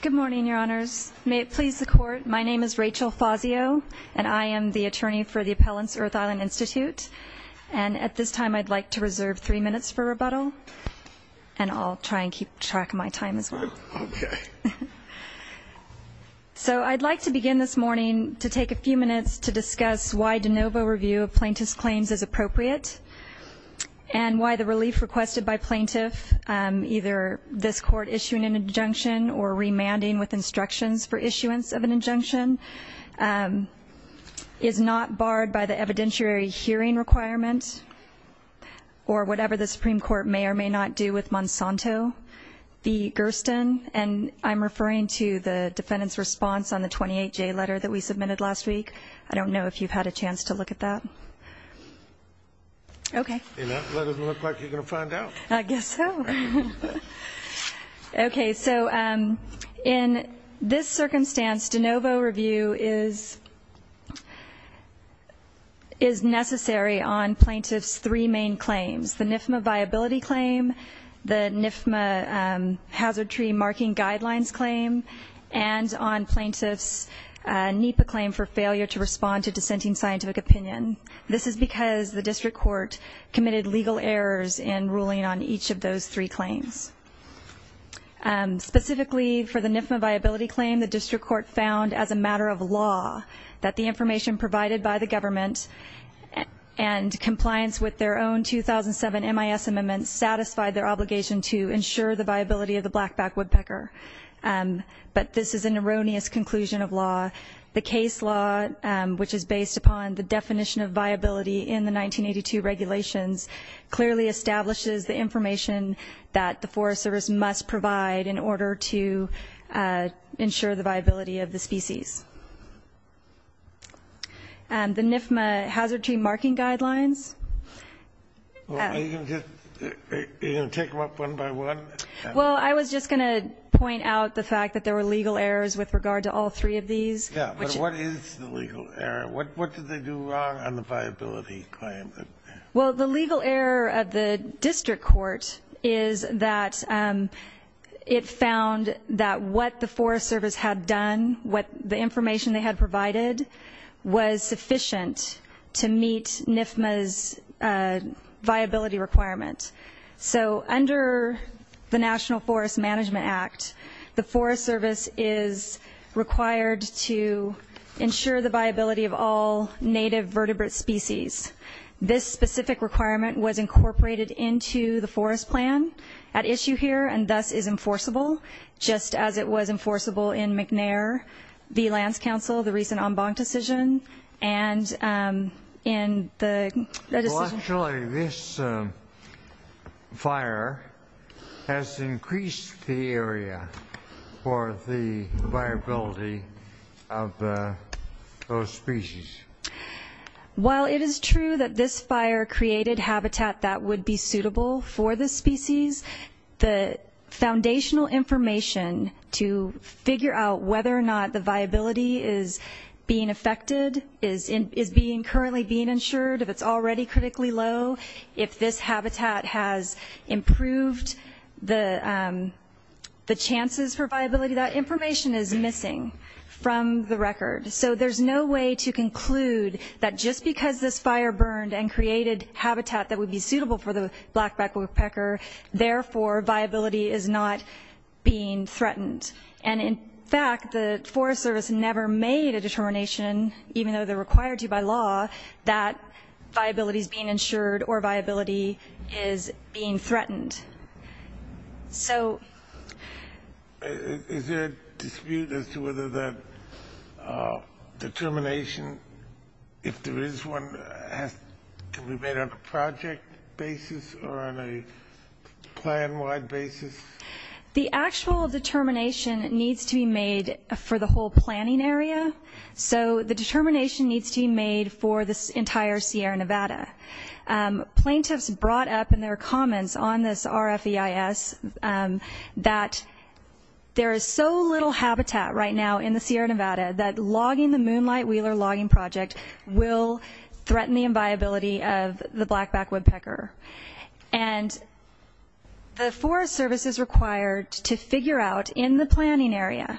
Good morning, your honors. May it please the court, my name is Rachel Fazio, and I am the attorney for the Appellants Earth Island Institute, and at this time I'd like to reserve three minutes for rebuttal, and I'll try and keep track of my time as well. Okay. And I'm referring to the defendant's response on the 28J letter that we submitted last week. I don't know if you've had a chance to look at that. Okay. That doesn't look like you're going to find out. I guess so. Okay, so in this circumstance, de novo review is necessary on plaintiff's three main claims. The NIFMA viability claim, the NIFMA hazard tree marking guidelines claim, and on plaintiff's NEPA claim for failure to respond to dissenting scientific opinion. This is because the district court committed legal errors in ruling on each of those three claims. Specifically for the NIFMA viability claim, the district court found as a matter of law that the information provided by the government and compliance with their own 2007 MIS amendments satisfied their obligation to ensure the viability of the blackback woodpecker. But this is an erroneous conclusion of law. The case law, which is based upon the definition of viability in the 1982 regulations, clearly establishes the information that the Forest Service must provide in order to ensure the viability of the species. The NIFMA hazard tree marking guidelines. Are you going to take them up one by one? Well, I was just going to point out the fact that there were legal errors with regard to all three of these. Yeah, but what is the legal error? What did they do wrong on the viability claim? Well, the legal error of the district court is that it found that what the Forest Service had done, what the information they had provided, was sufficient to meet NIFMA's viability requirement. So under the National Forest Management Act, the Forest Service is required to ensure the viability of all native vertebrate species. This specific requirement was incorporated into the forest plan at issue here and thus is enforceable, just as it was enforceable in McNair v. Lands Council, the recent en banc decision. Actually, this fire has increased the area for the viability of those species. While it is true that this fire created habitat that would be suitable for this species, the foundational information to figure out whether or not the viability is being affected is currently being ensured. If it's already critically low, if this habitat has improved the chances for viability, that information is missing from the record. So there's no way to conclude that just because this fire burned and created habitat that would be suitable for the blackback woodpecker, therefore viability is not being threatened. And in fact, the Forest Service never made a determination, even though they're required to by law, that viability is being ensured or viability is being threatened. So... Is there a dispute as to whether that determination, if there is one, can be made on a project basis or on a plan-wide basis? The actual determination needs to be made for the whole planning area. So the determination needs to be made for this entire Sierra Nevada. Plaintiffs brought up in their comments on this RFEIS that there is so little habitat right now in the Sierra Nevada that logging the Moonlight Wheeler Logging Project will threaten the viability of the blackback woodpecker. And the Forest Service is required to figure out in the planning area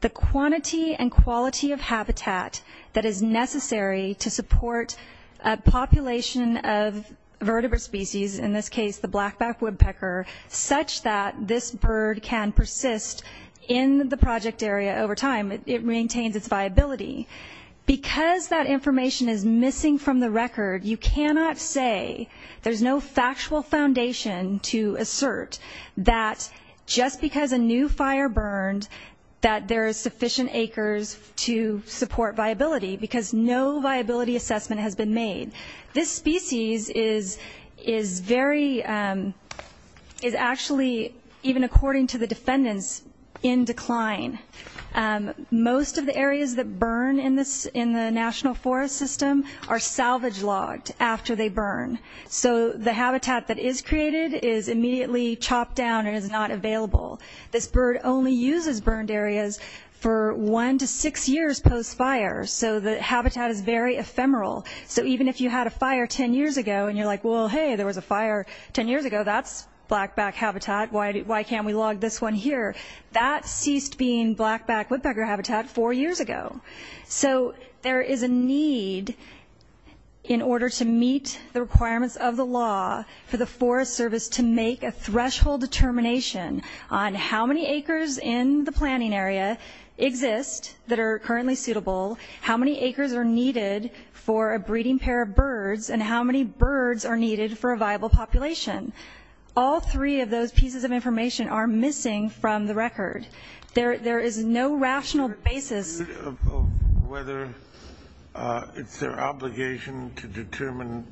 the quantity and quality of habitat that is necessary to support a population of vertebrate species, in this case the blackback woodpecker, such that this bird can persist in the project area over time. It maintains its viability. Because that information is missing from the record, you cannot say there's no factual foundation to assert that just because a new fire burned, that there are sufficient acres to support viability, because no viability assessment has been made. This species is very... is actually, even according to the defendants, in decline. Most of the areas that burn in the National Forest System are salvage logged after they burn. So the habitat that is created is immediately chopped down and is not available. This bird only uses burned areas for one to six years post-fire, so the habitat is very ephemeral. So even if you had a fire ten years ago and you're like, well, hey, there was a fire ten years ago, that's blackback habitat, why can't we log this one here? That ceased being blackback woodpecker habitat four years ago. So there is a need in order to meet the requirements of the law for the Forest Service to make a threshold determination on how many acres in the planning area exist that are currently suitable, how many acres are needed for a breeding pair of birds, and how many birds are needed for a viable population. All three of those pieces of information are missing from the record. There is no rational basis... Whether it's their obligation to determine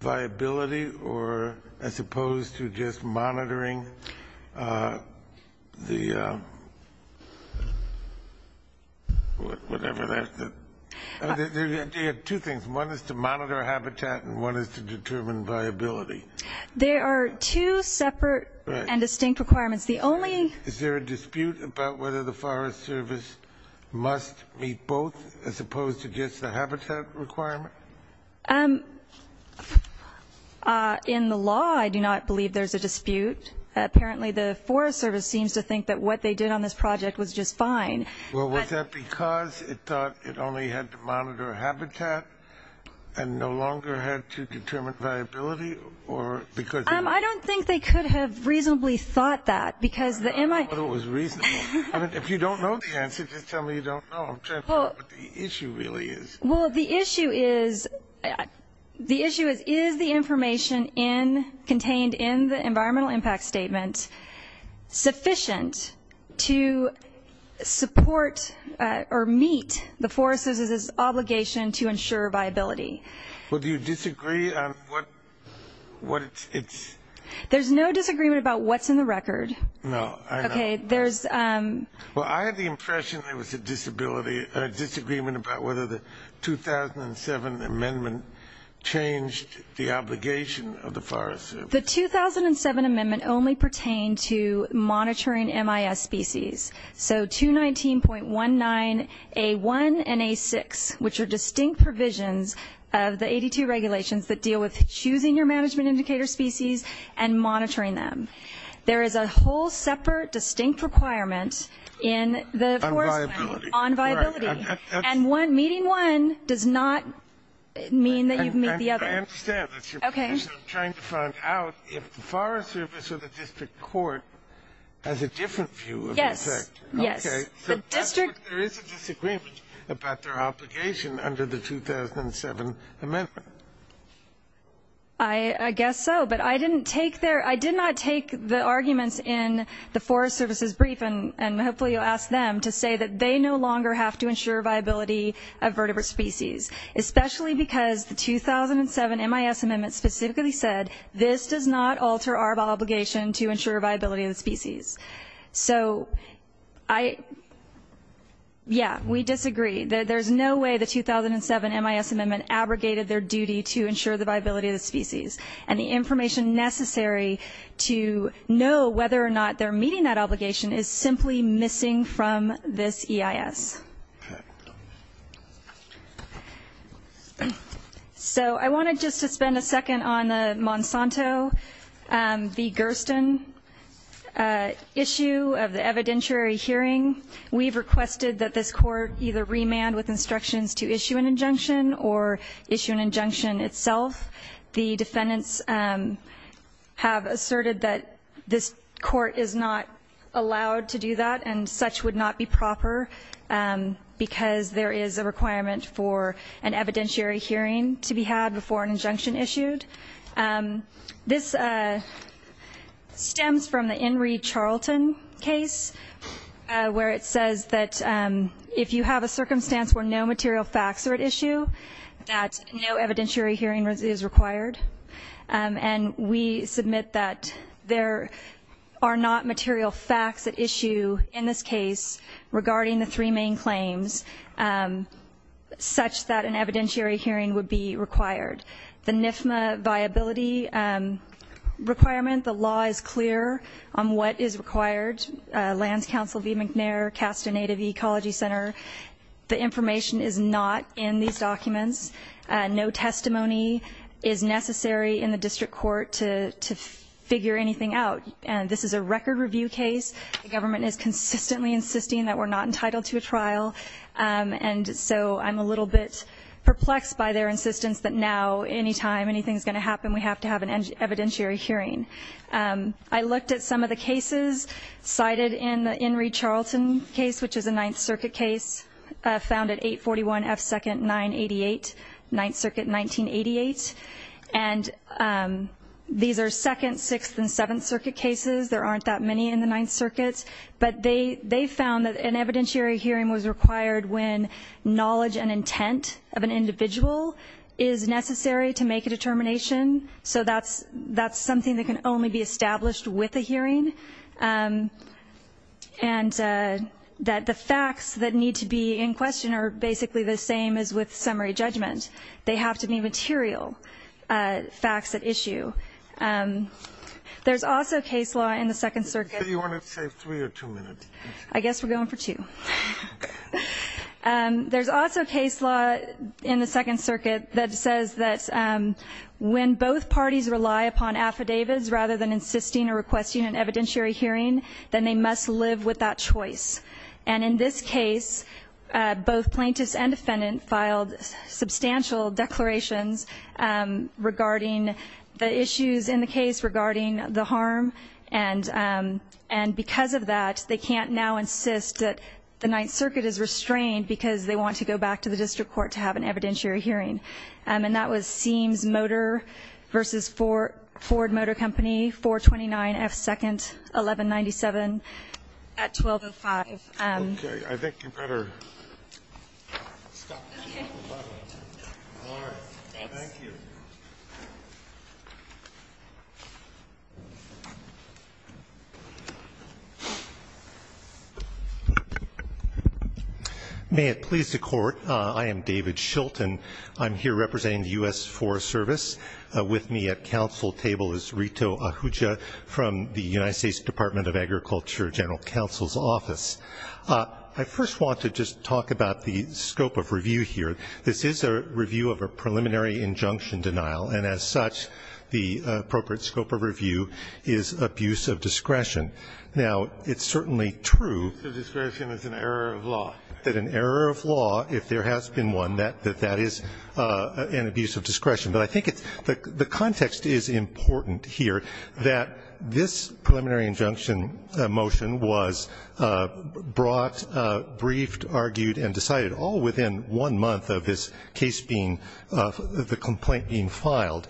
viability or as opposed to just monitoring the... They have two things. One is to monitor habitat and one is to determine viability. There are two separate and distinct requirements. The only... Is there a dispute about whether the Forest Service must meet both as opposed to just the habitat requirement? In the law, I do not believe there's a dispute. Apparently, the Forest Service seems to think that what they did on this project was just fine. Well, was that because it thought it only had to monitor habitat and no longer had to determine viability? I don't think they could have reasonably thought that because the MI... I don't know whether it was reasonable. If you don't know the answer, just tell me you don't know. I'm trying to figure out what the issue really is. Well, the issue is... The issue is, is the information contained in the environmental impact statement sufficient to support or meet the Forest Service's obligation to ensure viability? Well, do you disagree on what it's... There's no disagreement about what's in the record. No, I don't. Okay, there's... Well, I have the impression there was a disability... a disagreement about whether the 2007 amendment changed the obligation of the Forest Service. The 2007 amendment only pertained to monitoring MIS species. So 219.19A1 and A6, which are distinct provisions of the 82 regulations that deal with choosing your management indicator species and monitoring them. There is a whole separate distinct requirement in the Forest Plan. On viability. And meeting one does not mean that you meet the other. I understand. That's your position. I'm trying to find out if the Forest Service or the district court has a different view of the effect. Yes, yes. Okay. So there is a disagreement about their obligation under the 2007 amendment. I guess so. But I didn't take their... I did not take the arguments in the Forest Service's brief, and hopefully you'll ask them, to say that they no longer have to ensure viability of vertebrate species, especially because the 2007 MIS amendment specifically said, this does not alter our obligation to ensure viability of the species. So I... Yeah, we disagree. There's no way the 2007 MIS amendment abrogated their duty to ensure the viability of the species. And the information necessary to know whether or not they're meeting that obligation is simply missing from this EIS. So I wanted just to spend a second on the Monsanto v. Gersten issue of the evidentiary hearing. We've requested that this court either remand with instructions to issue an injunction or issue an injunction itself. The defendants have asserted that this court is not allowed to do that, and such would not be proper because there is a requirement for an evidentiary hearing to be had before an injunction issued. This stems from the Inree Charlton case where it says that if you have a circumstance where no material facts are at issue, that no evidentiary hearing is required. And we submit that there are not material facts at issue in this case regarding the three main claims, such that an evidentiary hearing would be required. The NFMA viability requirement, the law is clear on what is required. Lands Council v. McNair, Casta Native Ecology Center, the information is not in these documents. No testimony is necessary in the district court to figure anything out. This is a record review case. The government is consistently insisting that we're not entitled to a trial, and so I'm a little bit perplexed by their insistence that now, anytime anything's going to happen, we have to have an evidentiary hearing. I looked at some of the cases cited in the Inree Charlton case, which is a Ninth Circuit case, found at 841 F. 2nd, 988, Ninth Circuit, 1988. And these are Second, Sixth, and Seventh Circuit cases. There aren't that many in the Ninth Circuit. But they found that an evidentiary hearing was required when knowledge and intent of an individual is necessary to make a determination. So that's something that can only be established with a hearing, and that the facts that need to be in question are basically the same as with summary judgment. They have to be material facts at issue. There's also case law in the Second Circuit. So you want to save three or two minutes? I guess we're going for two. There's also case law in the Second Circuit that says that when both parties rely upon affidavits rather than insisting or requesting an evidentiary hearing, then they must live with that choice. And in this case, both plaintiffs and defendant filed substantial declarations regarding the issues in the case regarding the harm. And because of that, they can't now insist that the Ninth Circuit is restrained because they want to go back to the district court to have an evidentiary hearing. And that was Seams Motor v. Ford Motor Company, 429 F. 2nd, 1197, at 1205. Okay. I think you better stop. All right. Thank you. Thank you. May it please the Court, I am David Shilton. I'm here representing the U.S. Forest Service. With me at council table is Rito Ahuja from the United States Department of Agriculture General Counsel's Office. I first want to just talk about the scope of review here. This is a review of a preliminary injunction denial, and as such, the appropriate scope of review is abuse of discretion. Now, it's certainly true. Abuse of discretion is an error of law. That an error of law, if there has been one, that that is an abuse of discretion. But I think the context is important here, that this preliminary injunction motion was brought, briefed, argued, and decided all within one month of this case being of the complaint being filed.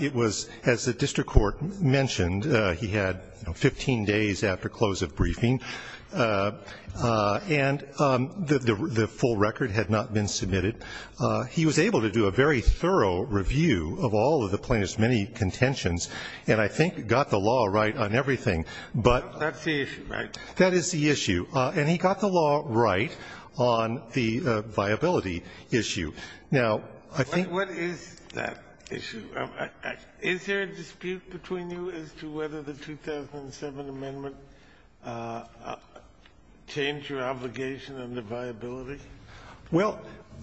It was, as the district court mentioned, he had 15 days after close of briefing, and the full record had not been submitted. He was able to do a very thorough review of all of the plaintiff's many contentions and I think got the law right on everything. But... That's the issue, right? That is the issue. And he got the law right on the viability issue. Now, I think... What is that issue? Is there a dispute between you as to whether the 2007 amendment changed your obligation on the viability? Well,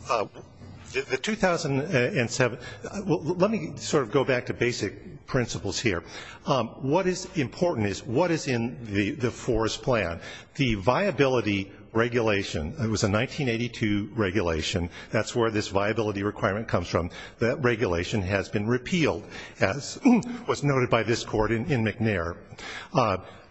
the 2007, let me sort of go back to basic principles here. What is important is what is in the forest plan. The viability regulation, it was a 1982 regulation. That's where this viability requirement comes from. That regulation has been repealed, as was noted by this court in McNair.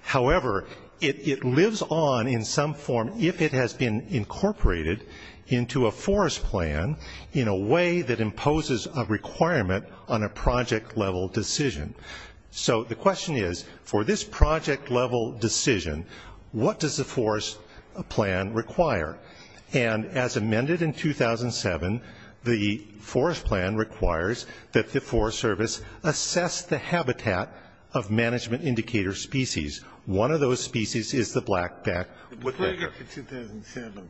However, it lives on in some form if it has been incorporated into a forest plan in a way that imposes a requirement on a project level decision. So the question is, for this project level decision, what does the forest plan require? And as amended in 2007, the forest plan requires that the Forest Service assess the habitat of management indicator species. One of those species is the blackback woodpecker. The plaintiff in 2007,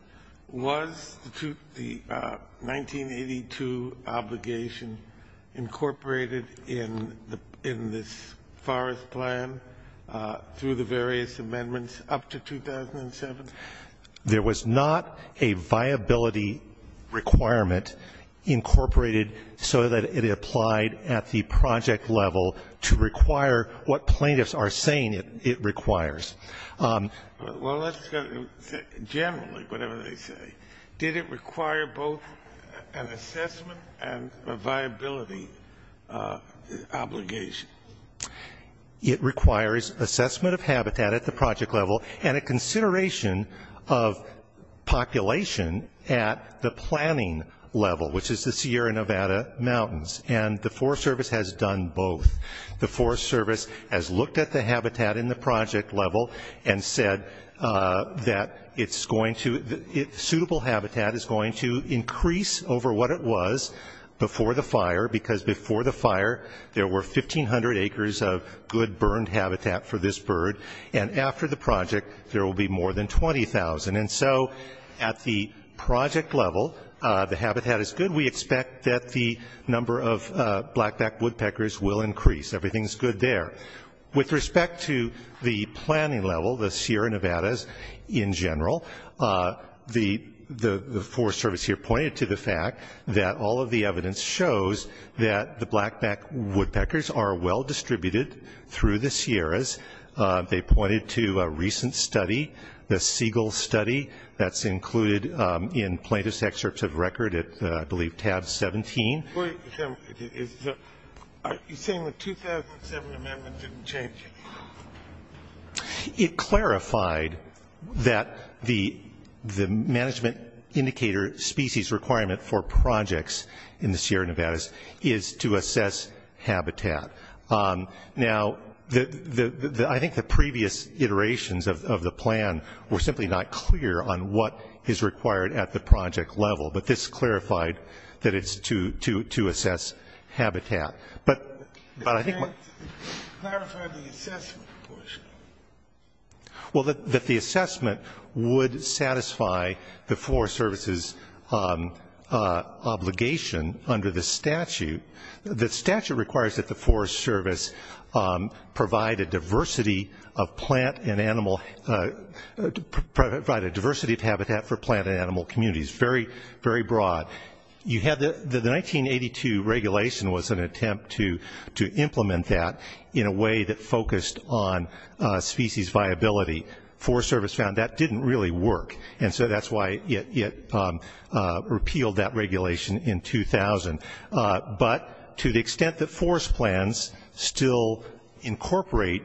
was the 1982 obligation incorporated in this forest plan through the various amendments up to 2007? There was not a viability requirement incorporated so that it applied at the project level to require what plaintiffs are saying it requires. Well, generally, whatever they say, did it require both an assessment and a viability obligation? It requires assessment of habitat at the project level and a consideration of population at the planning level, which is the Sierra Nevada Mountains. And the Forest Service has done both. The Forest Service has looked at the habitat in the project level and said that suitable habitat is going to increase over what it was before the fire, because before the fire, there were 1,500 acres of good burned habitat for this bird. And after the project, there will be more than 20,000. And so at the project level, the habitat is good. And we expect that the number of blackback woodpeckers will increase. Everything is good there. With respect to the planning level, the Sierra Nevadas in general, the Forest Service here pointed to the fact that all of the evidence shows that the blackback woodpeckers are well distributed through the Sierras. They pointed to a recent study, the Segal study. That's included in plaintiff's excerpts of record at, I believe, tab 17. Are you saying the 2007 amendment didn't change anything? It clarified that the management indicator species requirement for projects in the Sierra Nevadas is to assess habitat. Now, I think the previous iterations of the plan were simply not clear on what is required at the project level, but this clarified that it's to assess habitat. But I think what ---- It clarified the assessment portion. Well, that the assessment would satisfy the Forest Service's obligation under the statute. The statute requires that the Forest Service provide a diversity of habitat for plant and animal communities. Very, very broad. The 1982 regulation was an attempt to implement that in a way that focused on species viability. Forest Service found that didn't really work, and so that's why it repealed that regulation in 2000. But to the extent that forest plans still incorporate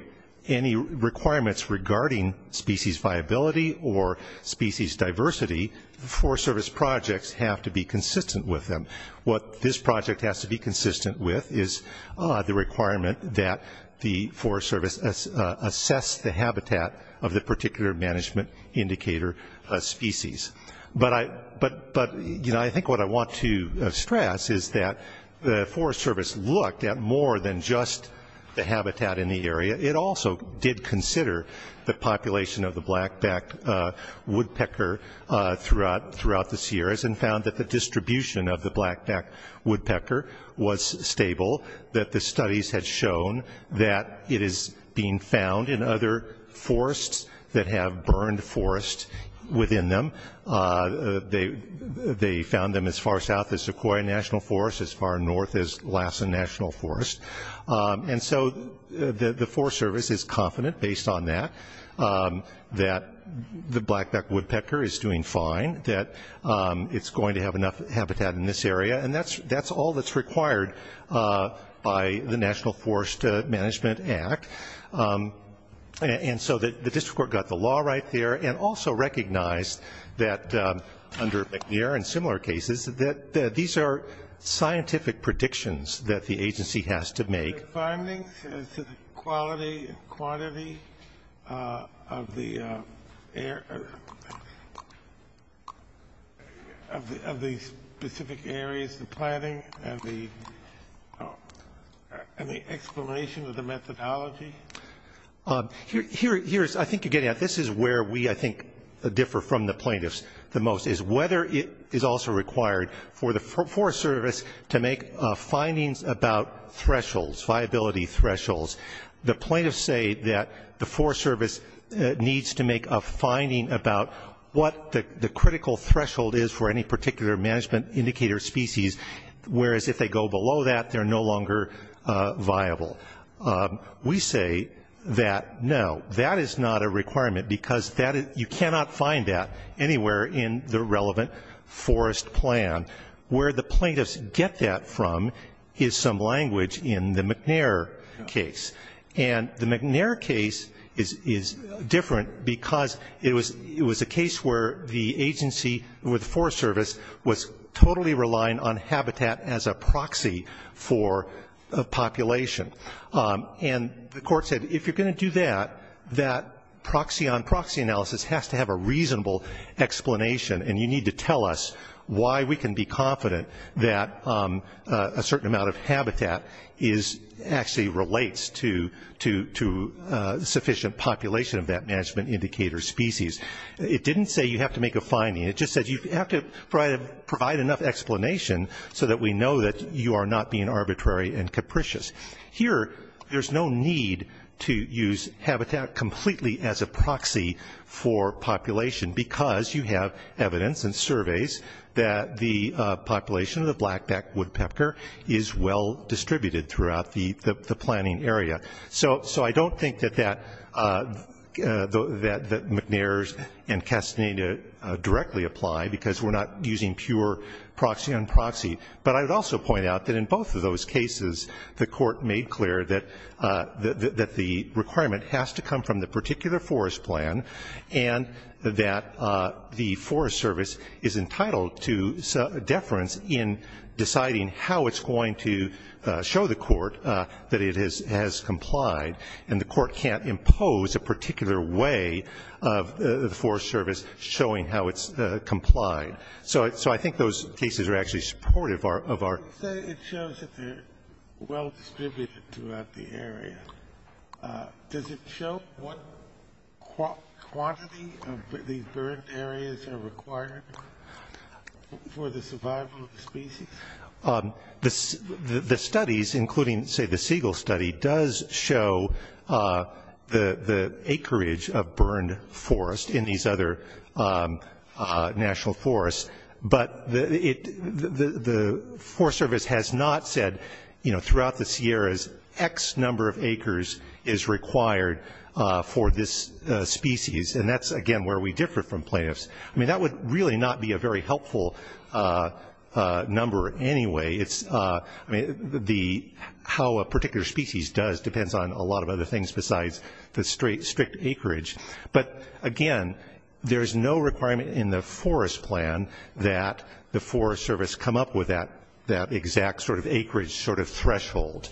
any requirements regarding species viability or species diversity, the Forest Service projects have to be consistent with them. What this project has to be consistent with is the requirement that the Forest Service assess the habitat of the particular management indicator species. But I think what I want to stress is that the Forest Service looked at more than just the habitat in the area. It also did consider the population of the blackback woodpecker throughout the Sierras and found that the distribution of the blackback woodpecker was stable, that the studies had shown that it is being found in other forests that have burned forests within them. They found them as far south as Sequoia National Forest, as far north as Lassen National Forest. And so the Forest Service is confident, based on that, that the blackback woodpecker is doing fine, that it's going to have enough habitat in this area. And that's all that's required by the National Forest Management Act. And so the district court got the law right there and also recognized that under McNair and similar cases that these are scientific predictions that the agency has to make. Are there findings as to the quality and quantity of the specific areas, the planning and the explanation of the methodology? I think you're getting at it. This is where we, I think, differ from the plaintiffs the most, is whether it is also required for the Forest Service to make findings about thresholds, viability thresholds. The plaintiffs say that the Forest Service needs to make a finding about what the critical threshold is for any particular management indicator species, whereas if they go below that, they're no longer viable. We say that no, that is not a requirement because you cannot find that anywhere in the relevant forest plan. Where the plaintiffs get that from is some language in the McNair case. And the McNair case is different because it was a case where the agency, with the Forest Service, was totally relying on habitat as a proxy for a population. And the court said if you're going to do that, that proxy on proxy analysis has to have a reasonable explanation and you need to tell us why we can be confident that a certain amount of habitat actually relates to sufficient population of that management indicator species. It didn't say you have to make a finding. It just said you have to provide enough explanation so that we know that you are not being arbitrary and capricious. Here, there's no need to use habitat completely as a proxy for population because you have evidence and surveys that the population of the blackback woodpecker is well distributed throughout the planning area. So I don't think that McNair's and Castaneda directly apply because we're not using pure proxy on proxy. But I would also point out that in both of those cases, the court made clear that the requirement has to come from the particular forest plan and that the Forest Service is entitled to deference in deciding how it's going to show the court that it has complied. And the court can't impose a particular way of the Forest Service showing how it's complied. So I think those cases are actually supportive of our ‑‑ well distributed throughout the area. Does it show what quantity of these burned areas are required for the survival of the species? The studies, including, say, the seagull study, does show the acreage of burned forest in these other national forests. But the Forest Service has not said throughout the Sierras X number of acres is required for this species. And that's, again, where we differ from plaintiffs. I mean, that would really not be a very helpful number anyway. I mean, how a particular species does depends on a lot of other things besides the strict acreage. But, again, there's no requirement in the forest plan that the Forest Service come up with that exact sort of acreage, sort of threshold.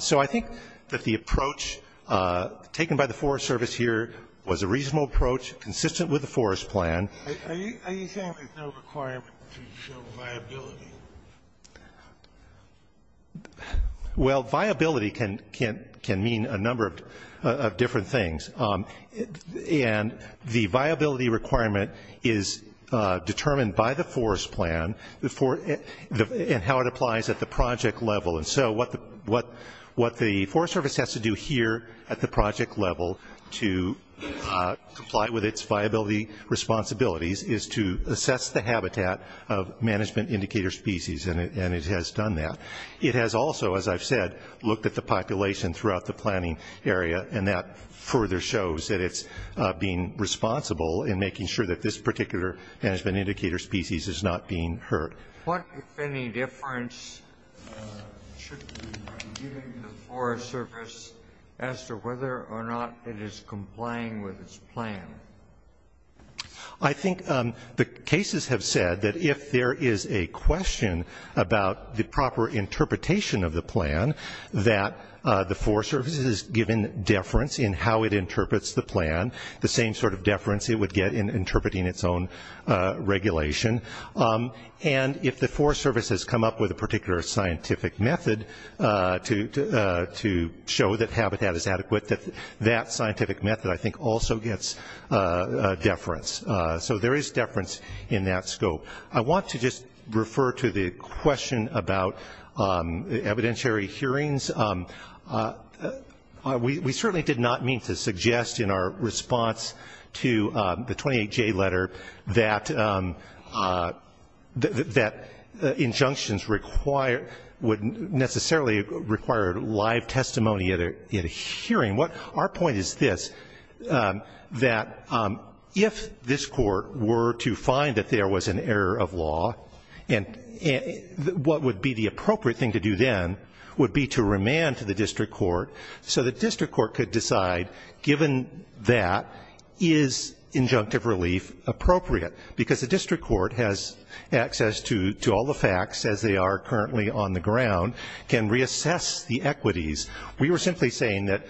So I think that the approach taken by the Forest Service here was a reasonable approach, consistent with the forest plan. Are you saying there's no requirement to show viability? Well, viability can mean a number of different things. And the viability requirement is determined by the forest plan and how it applies at the project level. And so what the Forest Service has to do here at the project level to comply with its viability responsibilities is to assess the habitat of management indicator species, and it has done that. It has also, as I've said, looked at the population throughout the planning area, and that further shows that it's being responsible in making sure that this particular management indicator species is not being hurt. What, if any, difference should be given to the Forest Service as to whether or not it is complying with its plan? I think the cases have said that if there is a question about the proper interpretation of the plan, that the Forest Service is given deference in how it interprets the plan, the same sort of deference it would get in interpreting its own regulation. And if the Forest Service has come up with a particular scientific method to show that habitat is adequate, that that scientific method, I think, also gets deference. So there is deference in that scope. I want to just refer to the question about evidentiary hearings. We certainly did not mean to suggest in our response to the 28J letter that injunctions require, would necessarily require live testimony at a hearing. Our point is this, that if this court were to find that there was an error of law, what would be the appropriate thing to do then would be to remand to the district court so the district court could decide, given that, is injunctive relief appropriate? Because the district court has access to all the facts as they are currently on the ground, can reassess the equities. We were simply saying that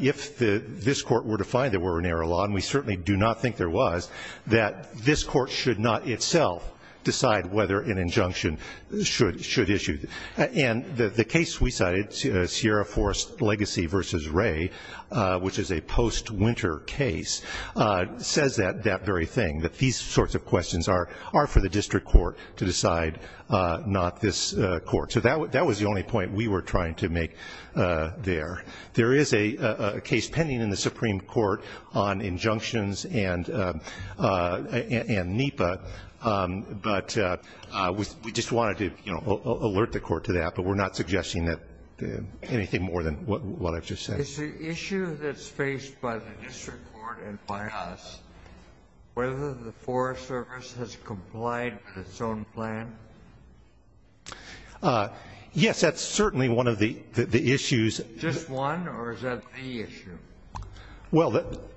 if this court were to find there were an error of law, and we certainly do not think there was, that this court should not itself decide whether an injunction should issue. And the case we cited, Sierra Forest Legacy v. Ray, which is a post-winter case, says that very thing, that these sorts of questions are for the district court to decide, not this court. So that was the only point we were trying to make there. There is a case pending in the Supreme Court on injunctions and NEPA, but we just wanted to alert the court to that, but we're not suggesting anything more than what I've just said. Is the issue that's faced by the district court and by us whether the Forest Service has complied with its own plan? Yes, that's certainly one of the issues. Just one, or is that the issue? Well,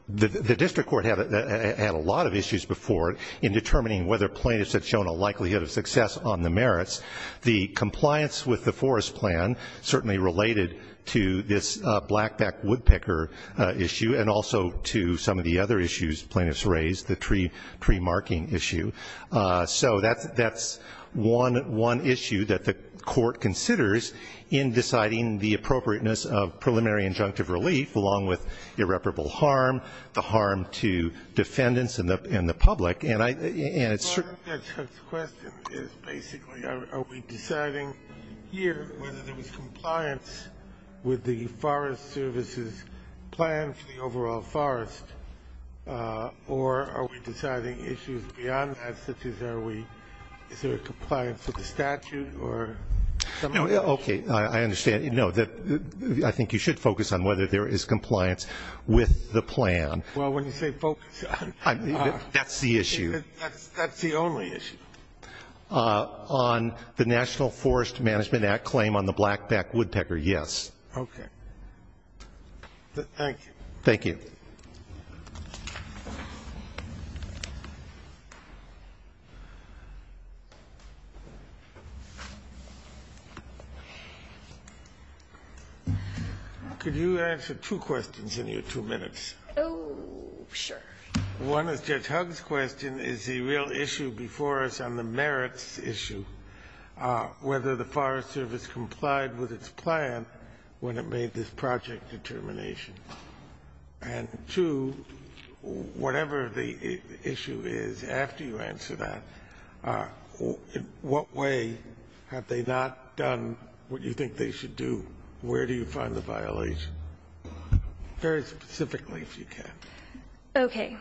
the district court had a lot of issues before in determining whether plaintiffs had shown a likelihood of success on the merits. The compliance with the forest plan certainly related to this blackback woodpecker issue and also to some of the other issues plaintiffs raised, the tree marking issue. So that's one issue that the court considers in deciding the appropriateness of preliminary injunctive relief, along with irreparable harm, the harm to defendants and the public. My question is basically are we deciding here whether there is compliance with the Forest Service's plan for the overall forest, or are we deciding issues beyond that, such as is there compliance with the statute? Okay, I understand. No, I think you should focus on whether there is compliance with the plan. Well, when you say focus on, that's the only issue. On the National Forest Management Act claim on the blackback woodpecker, yes. Okay. Thank you. Thank you. Could you answer two questions in your two minutes? Oh, sure. One is Judge Hugg's question. Is the real issue before us on the merits issue whether the Forest Service complied with its plan when it made this project determination? And two, whatever the issue is, after you answer that, in what way have they not done what you think they should do? Where do you find the violation? Very specifically, if you can. Okay.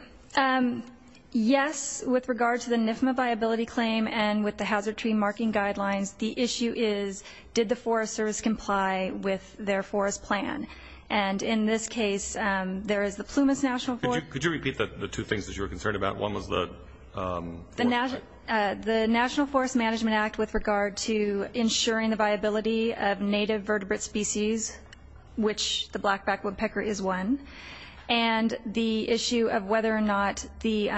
Yes, with regard to the NIFMA viability claim and with the hazard tree marking guidelines, the issue is did the Forest Service comply with their forest plan? And in this case, there is the Plumas National Forest. Could you repeat the two things that you were concerned about? One was the Forest Service. The National Forest Management Act with regard to ensuring the viability of native vertebrate species, which the blackback woodpecker is one. And the issue of whether or not the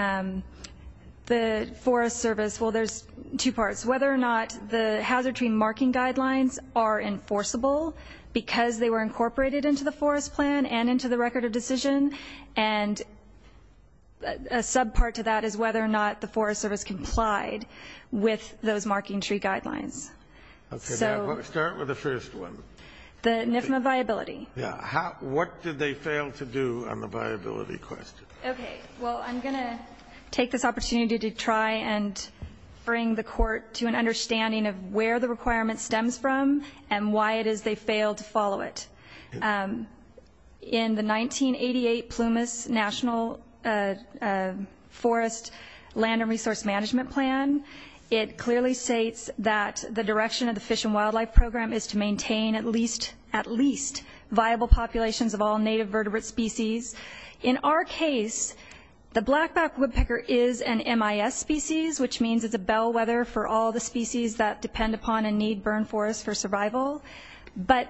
Forest Service – well, there's two parts. Whether or not the hazard tree marking guidelines are enforceable because they were incorporated into the forest plan and into the record of decision. And a subpart to that is whether or not the Forest Service complied with those marking tree guidelines. Okay. Start with the first one. The NIFMA viability. Yeah. What did they fail to do on the viability question? Okay. Well, I'm going to take this opportunity to try and bring the Court to an understanding of where the requirement stems from and why it is they failed to follow it. In the 1988 Plumas National Forest Land and Resource Management Plan, it clearly states that the direction of the Fish and Wildlife Program is to maintain at least viable populations of all native vertebrate species. In our case, the blackback woodpecker is an MIS species, which means it's a bellwether for all the species that depend upon and need burn forests for survival. But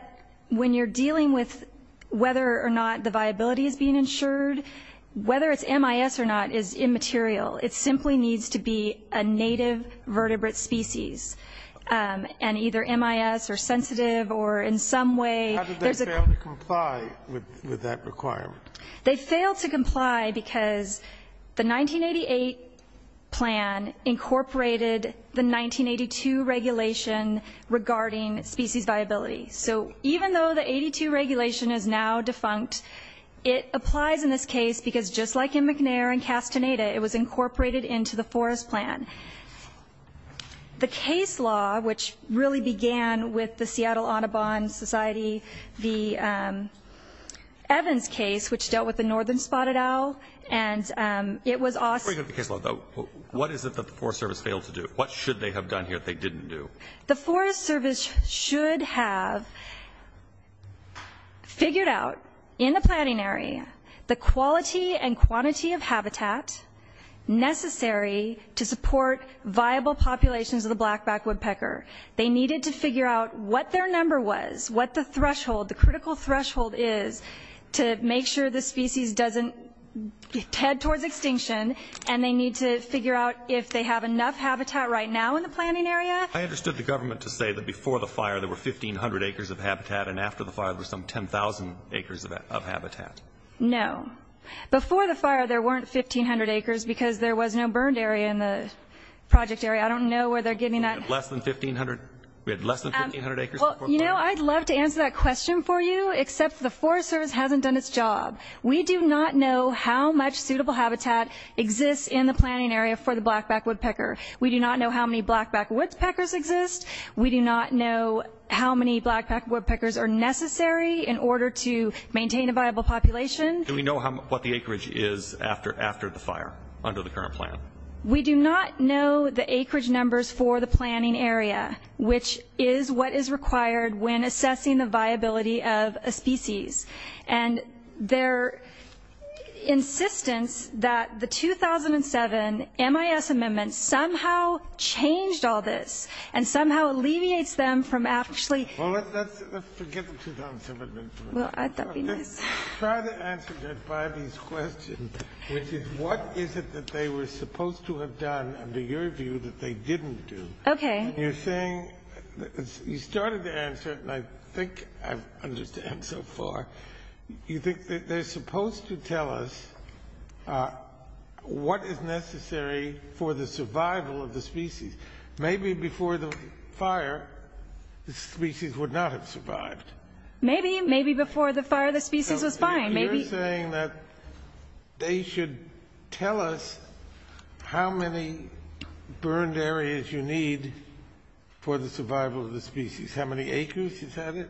when you're dealing with whether or not the viability is being ensured, whether it's MIS or not is immaterial. It simply needs to be a native vertebrate species and either MIS or sensitive or in some way. How did they fail to comply with that requirement? They failed to comply because the 1988 plan incorporated the 1982 regulation regarding species viability. So even though the 82 regulation is now defunct, it applies in this case because just like in McNair and Castaneda, it was incorporated into the forest plan. The case law, which really began with the Seattle Audubon Society, the Evans case, which dealt with the northern spotted owl, and it was also- Before you go to the case law, though, what is it that the Forest Service failed to do? What should they have done here that they didn't do? The Forest Service should have figured out, in the planning area, the quality and quantity of habitat necessary to support viable populations of the blackback woodpecker. They needed to figure out what their number was, what the threshold, the critical threshold is to make sure the species doesn't head towards extinction, and they need to figure out if they have enough habitat right now in the planning area. I understood the government to say that before the fire there were 1,500 acres of habitat, and after the fire there were some 10,000 acres of habitat. No. Before the fire there weren't 1,500 acres because there was no burned area in the project area. I don't know where they're getting that- We had less than 1,500 acres before the fire? You know, I'd love to answer that question for you, except the Forest Service hasn't done its job. We do not know how much suitable habitat exists in the planning area for the blackback woodpecker. We do not know how many blackback woodpeckers exist. We do not know how many blackback woodpeckers are necessary in order to maintain a viable population. Do we know what the acreage is after the fire under the current plan? We do not know the acreage numbers for the planning area, which is what is required when assessing the viability of a species. And their insistence that the 2007 MIS amendment somehow changed all this and somehow alleviates them from actually- Well, let's forget the 2007 amendment for a minute. Well, I thought that would be nice. Let's try to answer Judge Biby's question, which is what is it that they were supposed to have done under your view that they didn't do? Okay. You're saying you started to answer, and I think I understand so far, you think that they're supposed to tell us what is necessary for the survival of the species. Maybe before the fire, the species would not have survived. Maybe. Maybe before the fire, the species was fine. You're saying that they should tell us how many burned areas you need for the survival of the species, how many acres, is that it?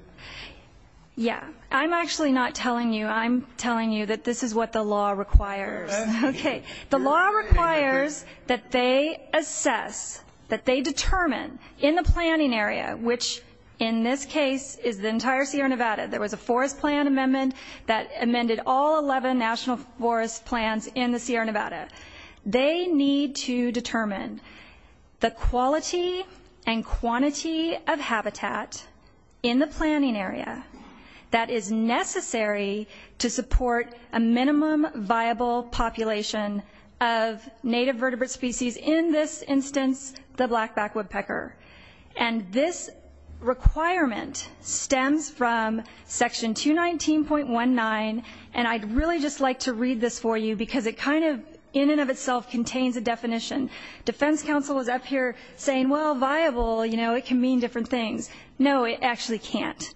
Yeah. I'm actually not telling you. I'm telling you that this is what the law requires. Okay. The law requires that they assess, that they determine in the planning area, which in this case is the entire Sierra Nevada. There was a forest plan amendment that amended all 11 national forest plans in the Sierra Nevada. They need to determine the quality and quantity of habitat in the planning area that is necessary to support a minimum viable population of native vertebrate species, in this instance, the blackback woodpecker. And this requirement stems from section 219.19, and I'd really just like to read this for you because it kind of in and of itself contains a definition. Defense counsel is up here saying, well, viable, you know, it can mean different things. No, it actually can't.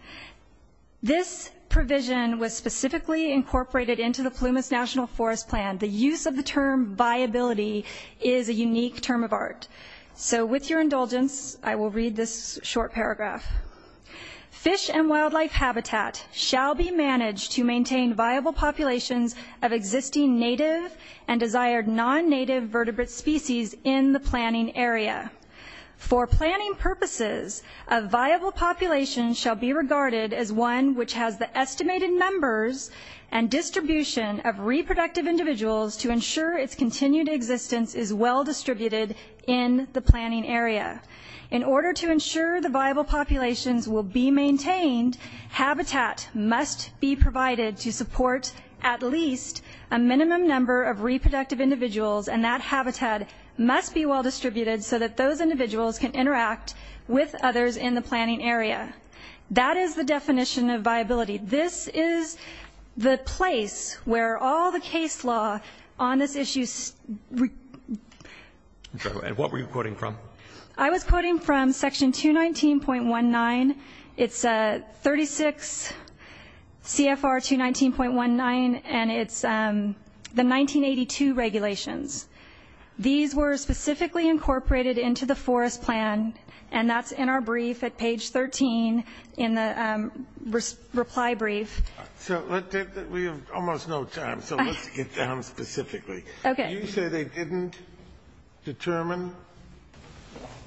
This provision was specifically incorporated into the Plumas National Forest Plan. The use of the term viability is a unique term of art. So with your indulgence, I will read this short paragraph. Fish and wildlife habitat shall be managed to maintain viable populations of existing native and desired non-native vertebrate species in the planning area. For planning purposes, a viable population shall be regarded as one which has the estimated numbers and distribution of reproductive individuals to ensure its continued existence is well distributed in the planning area. In order to ensure the viable populations will be maintained, habitat must be provided to support at least a minimum number of reproductive individuals, and that habitat must be well distributed so that those individuals can interact with others in the planning area. That is the definition of viability. This is the place where all the case law on this issue. And what were you quoting from? I was quoting from Section 219.19. It's 36 CFR 219.19, and it's the 1982 regulations. These were specifically incorporated into the Forest Plan, and that's in our brief at page 13 in the reply brief. So let's take that we have almost no time, so let's get down specifically. Okay. You say they didn't determine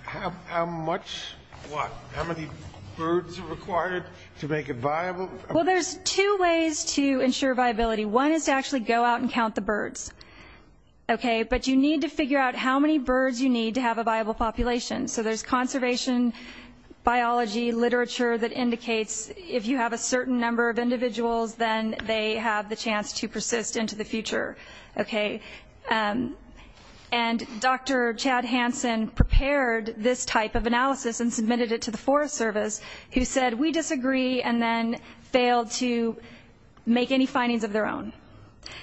how much, what, how many birds are required to make it viable? Well, there's two ways to ensure viability. One is to actually go out and count the birds, okay? But you need to figure out how many birds you need to have a viable population. So there's conservation, biology, literature that indicates if you have a certain number of individuals, then they have the chance to persist into the future, okay? And Dr. Chad Hansen prepared this type of analysis and submitted it to the Forest Service, who said we disagree and then failed to make any findings of their own.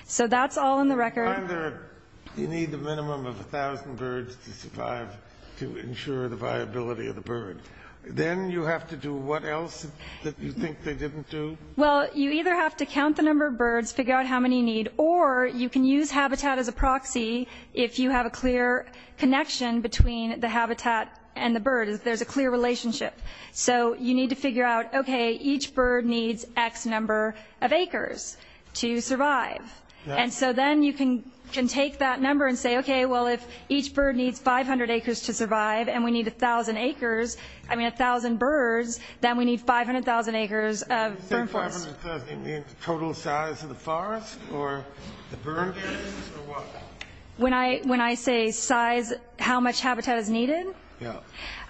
So that's all in the record. You need the minimum of 1,000 birds to survive to ensure the viability of the bird. Then you have to do what else that you think they didn't do? Well, you either have to count the number of birds, figure out how many you need, or you can use habitat as a proxy if you have a clear connection between the habitat and the bird, if there's a clear relationship. So you need to figure out, okay, each bird needs X number of acres to survive. And so then you can take that number and say, okay, well, if each bird needs 500 acres to survive and we need 1,000 acres, I mean 1,000 birds, then we need 500,000 acres of farm forest. You say 500,000, you mean the total size of the forest or the birds or what? When I say size, how much habitat is needed? Yeah.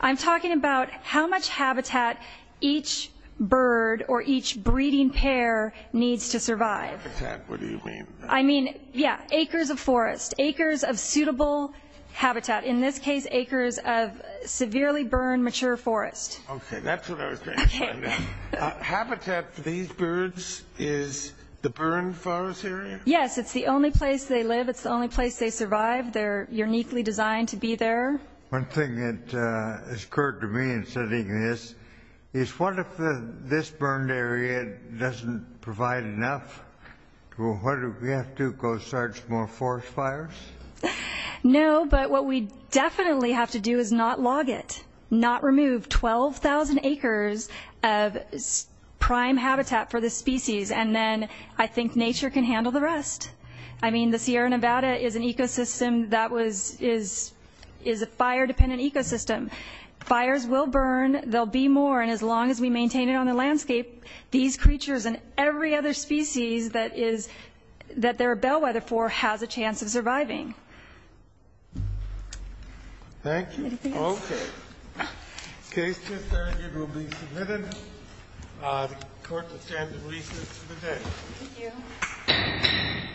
I'm talking about how much habitat each bird or each breeding pair needs to survive. Habitat, what do you mean? I mean, yeah, acres of forest, acres of suitable habitat. In this case, acres of severely burned, mature forest. Okay. That's what I was trying to find out. Habitat for these birds is the burned forest area? Yes. It's the only place they live. It's the only place they survive. They're uniquely designed to be there. One thing that has occurred to me in studying this is what if this burned area doesn't provide enough? What do we have to do, go start some more forest fires? No, but what we definitely have to do is not log it, not remove 12,000 acres of prime habitat for this species, and then I think nature can handle the rest. I mean, the Sierra Nevada is an ecosystem that is a fire-dependent ecosystem. Fires will burn. They'll be more. And as long as we maintain it on the landscape, these creatures and every other species that they're a bellwether for has a chance of surviving. Thank you. Okay. This case is adjourned. It will be submitted. The Court will stand in recess for the day. Thank you.